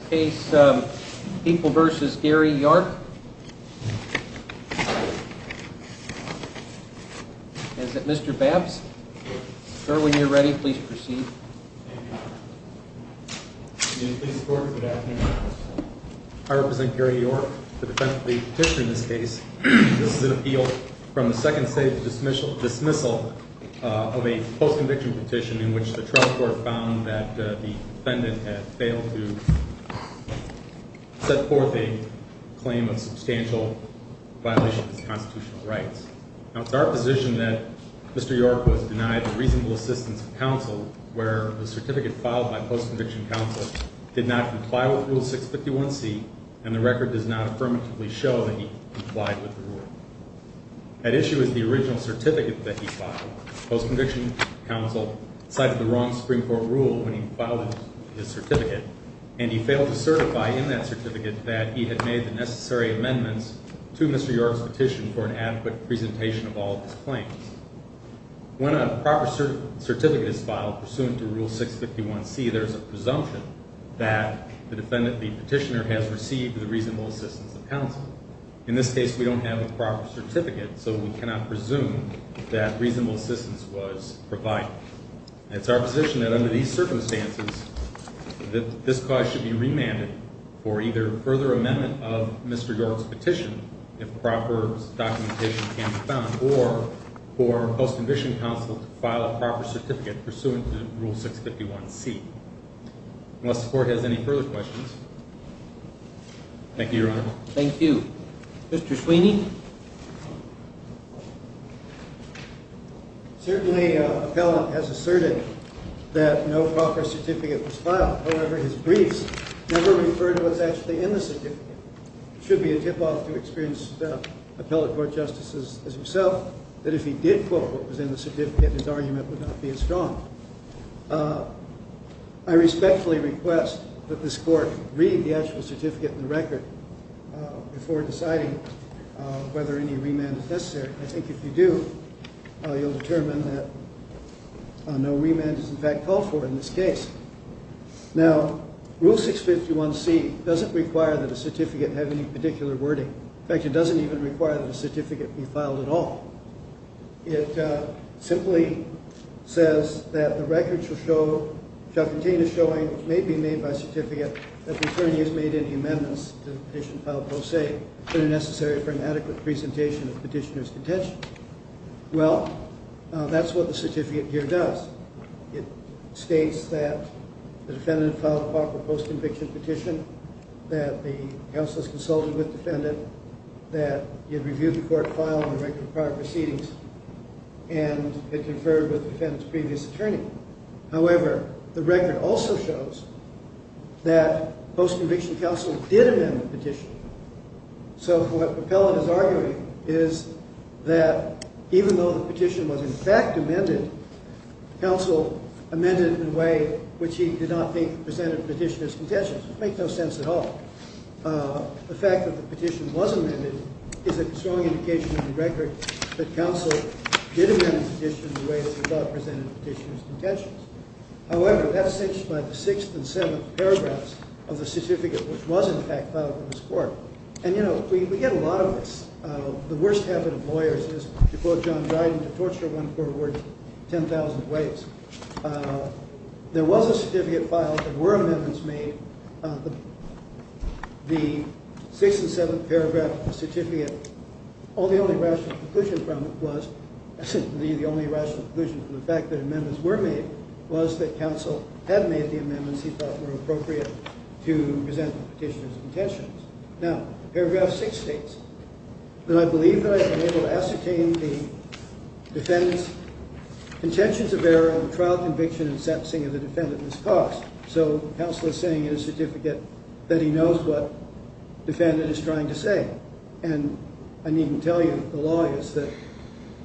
I represent Gary York, the defense of the petitioner in this case. This is an appeal from the Second State of Dismissal of a post-conviction petition in which the trial court found that the defendant had failed to set forth a claim of substantial violation of his constitutional rights. Now it's our position that Mr. York was denied the reasonable assistance of counsel where the certificate filed by post-conviction counsel did not comply with Rule 651C and the record does not affirmatively show that he complied with the rule. At issue is the original certificate that he filed. Post-conviction counsel cited the wrong Supreme Court rule when he filed his certificate and he failed to certify in that certificate that he had made the necessary amendments to Mr. York's petition for an adequate presentation of all of his claims. When a proper certificate is filed pursuant to Rule 651C there is a presumption that the petitioner has received the reasonable assistance of counsel. In this case we don't have a proper certificate so we cannot presume that reasonable assistance was provided. It's our position that under these circumstances that this clause should be remanded for either further amendment of Mr. York's petition if proper documentation can be found or for post-conviction counsel to file a proper certificate pursuant to Rule 651C. Unless the court has any further questions. Thank you, Your Honor. Thank you. Mr. Sweeney? Certainly the appellant has asserted that no proper certificate was filed. However his briefs never refer to what's actually in the certificate. It should be a tip-off to experienced appellate court justices as himself that if he did quote what was in the certificate his argument would not be as strong. I respectfully request that this court read the actual certificate in the record before deciding whether any remand is necessary. I think if you do you'll determine that no remand is in fact called for in this case. Now Rule 651C doesn't require that a certificate have any particular wording. In fact it doesn't even require that a certificate be filed at all. It simply says that the record shall contain a showing which may be made by certificate that the attorney has made any amendments to the petition filed pro se that are necessary for an adequate presentation of the petitioner's contention. Well that's what the certificate here does. It states that the defendant filed a proper post-conviction petition, that the counsel has consulted with defendant, that he had reviewed the court file on the record of prior proceedings, and it conferred with the defendant's previous attorney. However the record also shows that post-conviction counsel did amend the petition. So what the appellant is arguing is that even though the petition was in fact amended, counsel amended in a way which he did not think presented petitioner's contentions, which makes no sense at all. The fact that the petition was amended is a strong indication in the record that counsel did amend the petition in a way that he thought presented petitioner's contentions. However that's by the sixth and seventh paragraphs of the certificate which was in fact filed in this court. And you know we get a the worst habit of lawyers is to quote John Dryden, to torture one court award 10,000 ways. There was a certificate filed that were amendments made. The sixth and seventh paragraph of the certificate, all the only rational conclusion from it was, the only rational conclusion from the fact that amendments were made, was that counsel had made the amendments he thought were appropriate to present the petitioner's contentions. Now paragraph six states that I believe that I've been able to ascertain the defendant's contentions of error of the trial conviction and sentencing of the defendant in this cause. So counsel is saying in a certificate that he knows what the defendant is trying to say. And I needn't tell you the law is that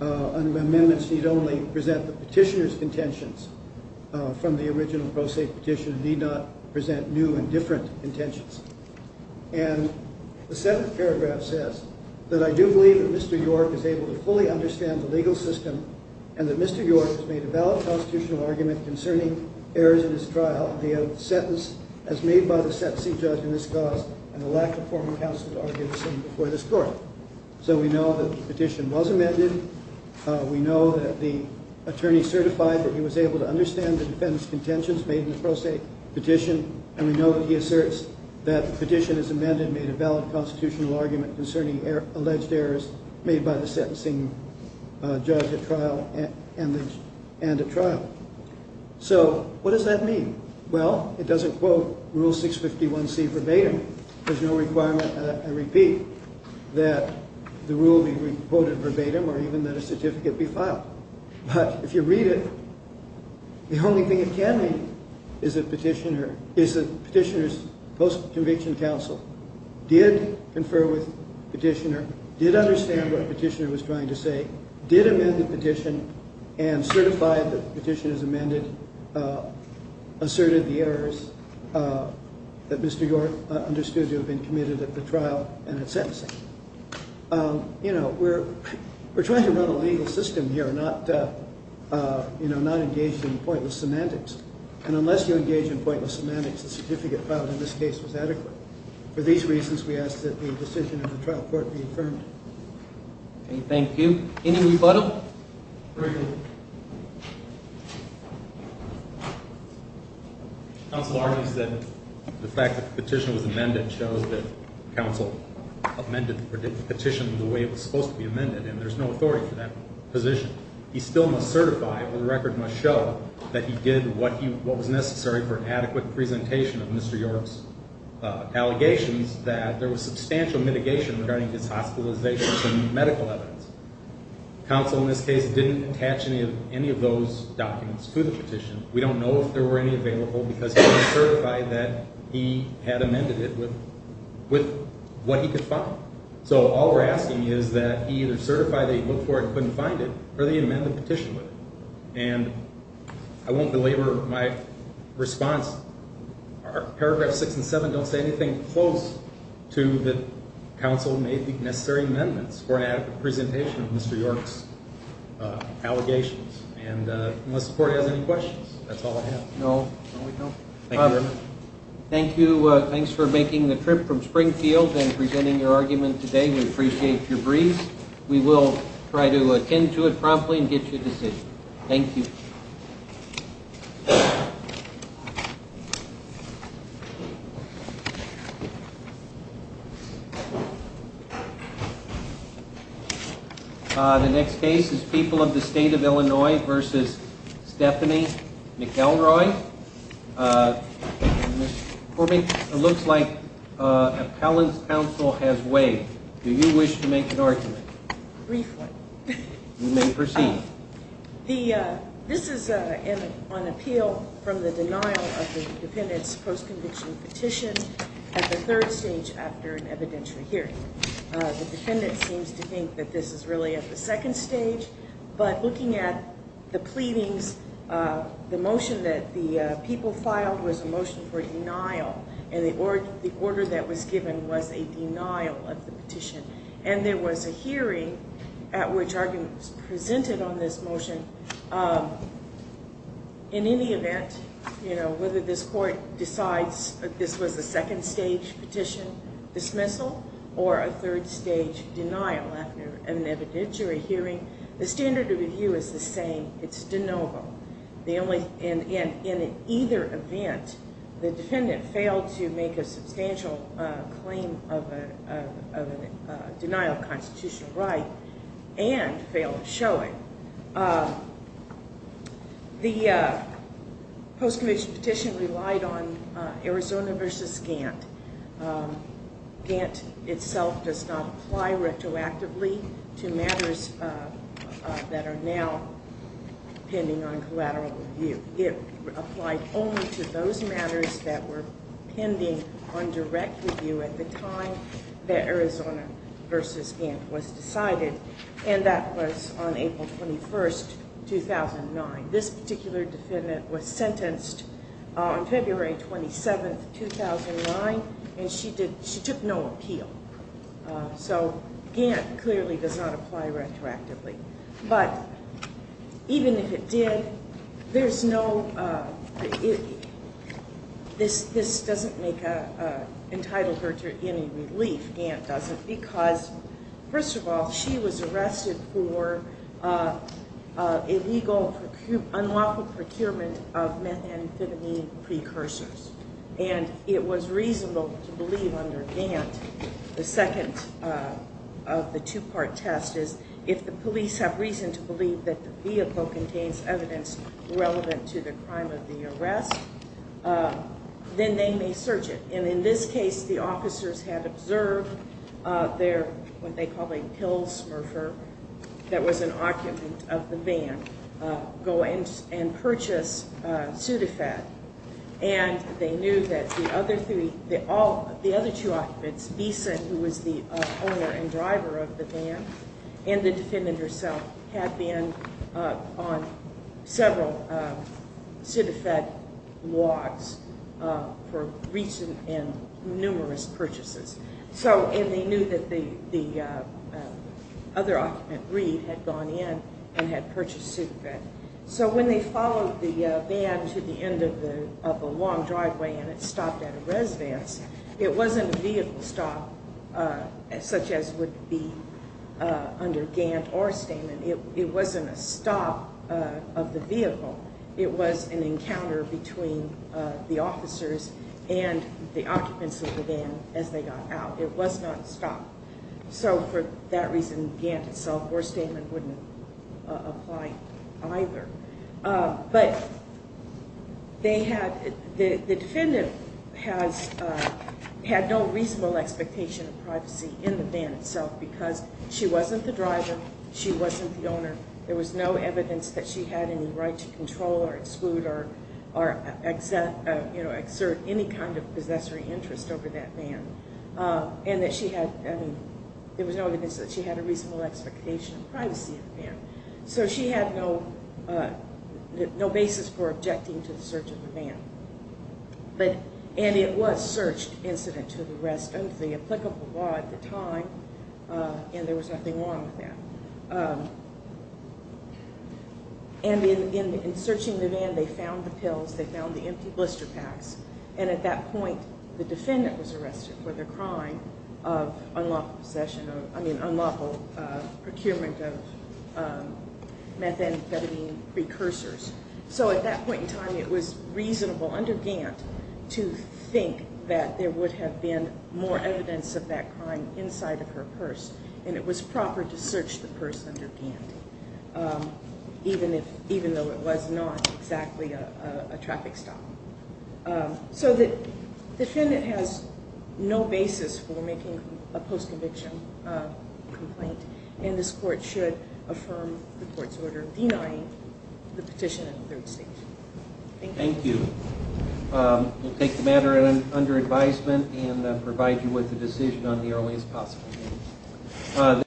amendments need only present the petitioner's original pro se petition and need not present new and different contentions. And the seventh paragraph says that I do believe that Mr. York is able to fully understand the legal system and that Mr. York has made a valid constitutional argument concerning errors in his trial, the sentence as made by the set seat judge in this cause, and the lack of formal counsel to argue the same before this court. So we know that the petition was amended. We know that the defendant's contentions made in the pro se petition, and we know that he asserts that the petition is amended, made a valid constitutional argument concerning alleged errors made by the sentencing judge at trial and at trial. So what does that mean? Well, it doesn't quote rule 651C verbatim. There's no requirement, I repeat, that the rule be quoted verbatim or even that a certificate be is that petitioner is a petitioner's post conviction counsel did confer with petitioner, did understand what a petitioner was trying to say, did amend the petition and certified that petition is amended, asserted the errors that Mr. York understood to have been committed at the trial and at sentencing. You know, we're trying to run a legal system here, not, you know, not engage in pointless semantics. And unless you engage in pointless semantics, the certificate filed in this case was adequate. For these reasons, we ask that the decision of the trial court be affirmed. Thank you. Any rebuttal? Counsel argues that the fact that the petition was amended shows that counsel amended the petition the way it was supposed to be amended, and there's no authority for that position. He still must certify or the record must show that he did what he, what was necessary for an adequate presentation of Mr. York's allegations that there was substantial mitigation regarding his hospitalizations and medical evidence. Counsel in this case didn't attach any of any of those documents to the petition. We don't know if there were any available because he didn't certify that he had amended it with, with what he could find. So all we're asking is that he either certify that he looked for it and couldn't find it, or that he amended the petition with it. And I won't belabor my response. Paragraphs six and seven don't say anything close to that counsel made the necessary amendments for an adequate presentation of Mr. York's allegations. And unless the court has any questions, that's all I have. No, no we don't. Thank you very much. Thank you. Thanks for making the trip from Springfield and presenting your argument today. We appreciate your briefs. We will try to attend to it promptly and get your decision. Thank you. The next case is People of the State of Illinois versus Stephanie McElroy. Uh, Mr. Corbyn, it looks like, uh, appellant's counsel has waived. Do you wish to make an argument? Briefly. You may proceed. The, uh, this is, uh, an appeal from the denial of the defendant's post-conviction petition at the third stage after an evidentiary hearing. Uh, the defendant seems to think that this is really at the second stage, but looking at the pleadings, uh, the motion that the, uh, people filed was a motion for denial and the order, the order that was given was a denial of the petition. And there was a hearing at which arguments presented on this motion. Um, in any event, you know, whether this court decides that this was a second stage petition dismissal or a third stage denial after an evidentiary hearing, the standard of review is the same. It's de novo. The only, in, in, in either event, the defendant failed to make a substantial, uh, claim of a, of a, uh, denial of constitutional right and failed to show it. Uh, the, uh, post-conviction petition relied on, uh, Arizona versus Gant. Um, Gant itself does not retroactively to matters, uh, uh, that are now pending on collateral review. It applied only to those matters that were pending on direct review at the time that Arizona versus Gant was decided. And that was on April 21st, 2009. This particular defendant was sentenced on February 27th, 2009. And she did, she took no appeal. Uh, so Gant clearly does not apply retroactively, but even if it did, there's no, uh, this, this doesn't make a, uh, entitled her to any relief. Gant doesn't because first of all, she was arrested for, uh, uh, illegal unlawful procurement of precursors. And it was reasonable to believe under Gant, the second, uh, of the two-part test is if the police have reason to believe that the vehicle contains evidence relevant to the crime of the arrest, uh, then they may search it. And in this case, the officers had observed, uh, their, what they knew that the other three, the all, the other two occupants, Beeson, who was the, uh, owner and driver of the van and the defendant herself had been, uh, on several, uh, CIDAFED logs, uh, for recent and numerous purchases. So, and they knew that the, the, uh, uh, other breed had gone in and had purchased CIDAFED. So when they followed the, uh, van to the end of the, of the long driveway, and it stopped at a residence, it wasn't a vehicle stop, uh, such as would be, uh, under Gant or statement. It, it wasn't a stop, uh, of the vehicle. It was an encounter between, uh, the officers and the occupants of the van as they got out. It was not a stop. So for that reason, Gant itself or statement wouldn't, uh, apply either. Uh, but they had, the, the defendant has, uh, had no reasonable expectation of privacy in the van itself because she wasn't the driver. She wasn't the owner. There was no evidence that she had any right to control or exclude or, or accept, uh, you know, exert any kind of possessory interest over that van. Uh, and that she had, I mean, there was no evidence that she had a reasonable expectation of privacy in the van. So she had no, uh, no basis for objecting to the search of the van. But, and it was searched incident to the rest under the applicable law at the time, uh, and there was nothing wrong with that. Um, and in, in, in searching the van, they found the crime of unlawful possession of, I mean, unlawful, uh, procurement of, um, methamphetamine precursors. So at that point in time, it was reasonable under Gant to think that there would have been more evidence of that crime inside of her purse. And it was proper to search the purse under Gant, um, even if, even though it was not exactly a, a traffic stop. Um, so the defendant has no basis for making a post-conviction, uh, complaint and this court should affirm the court's order denying the petition in the third stage. Thank you. Thank you. Um, we'll take the matter under advisement and, uh, provide you with the decision on the earliest possible. Uh,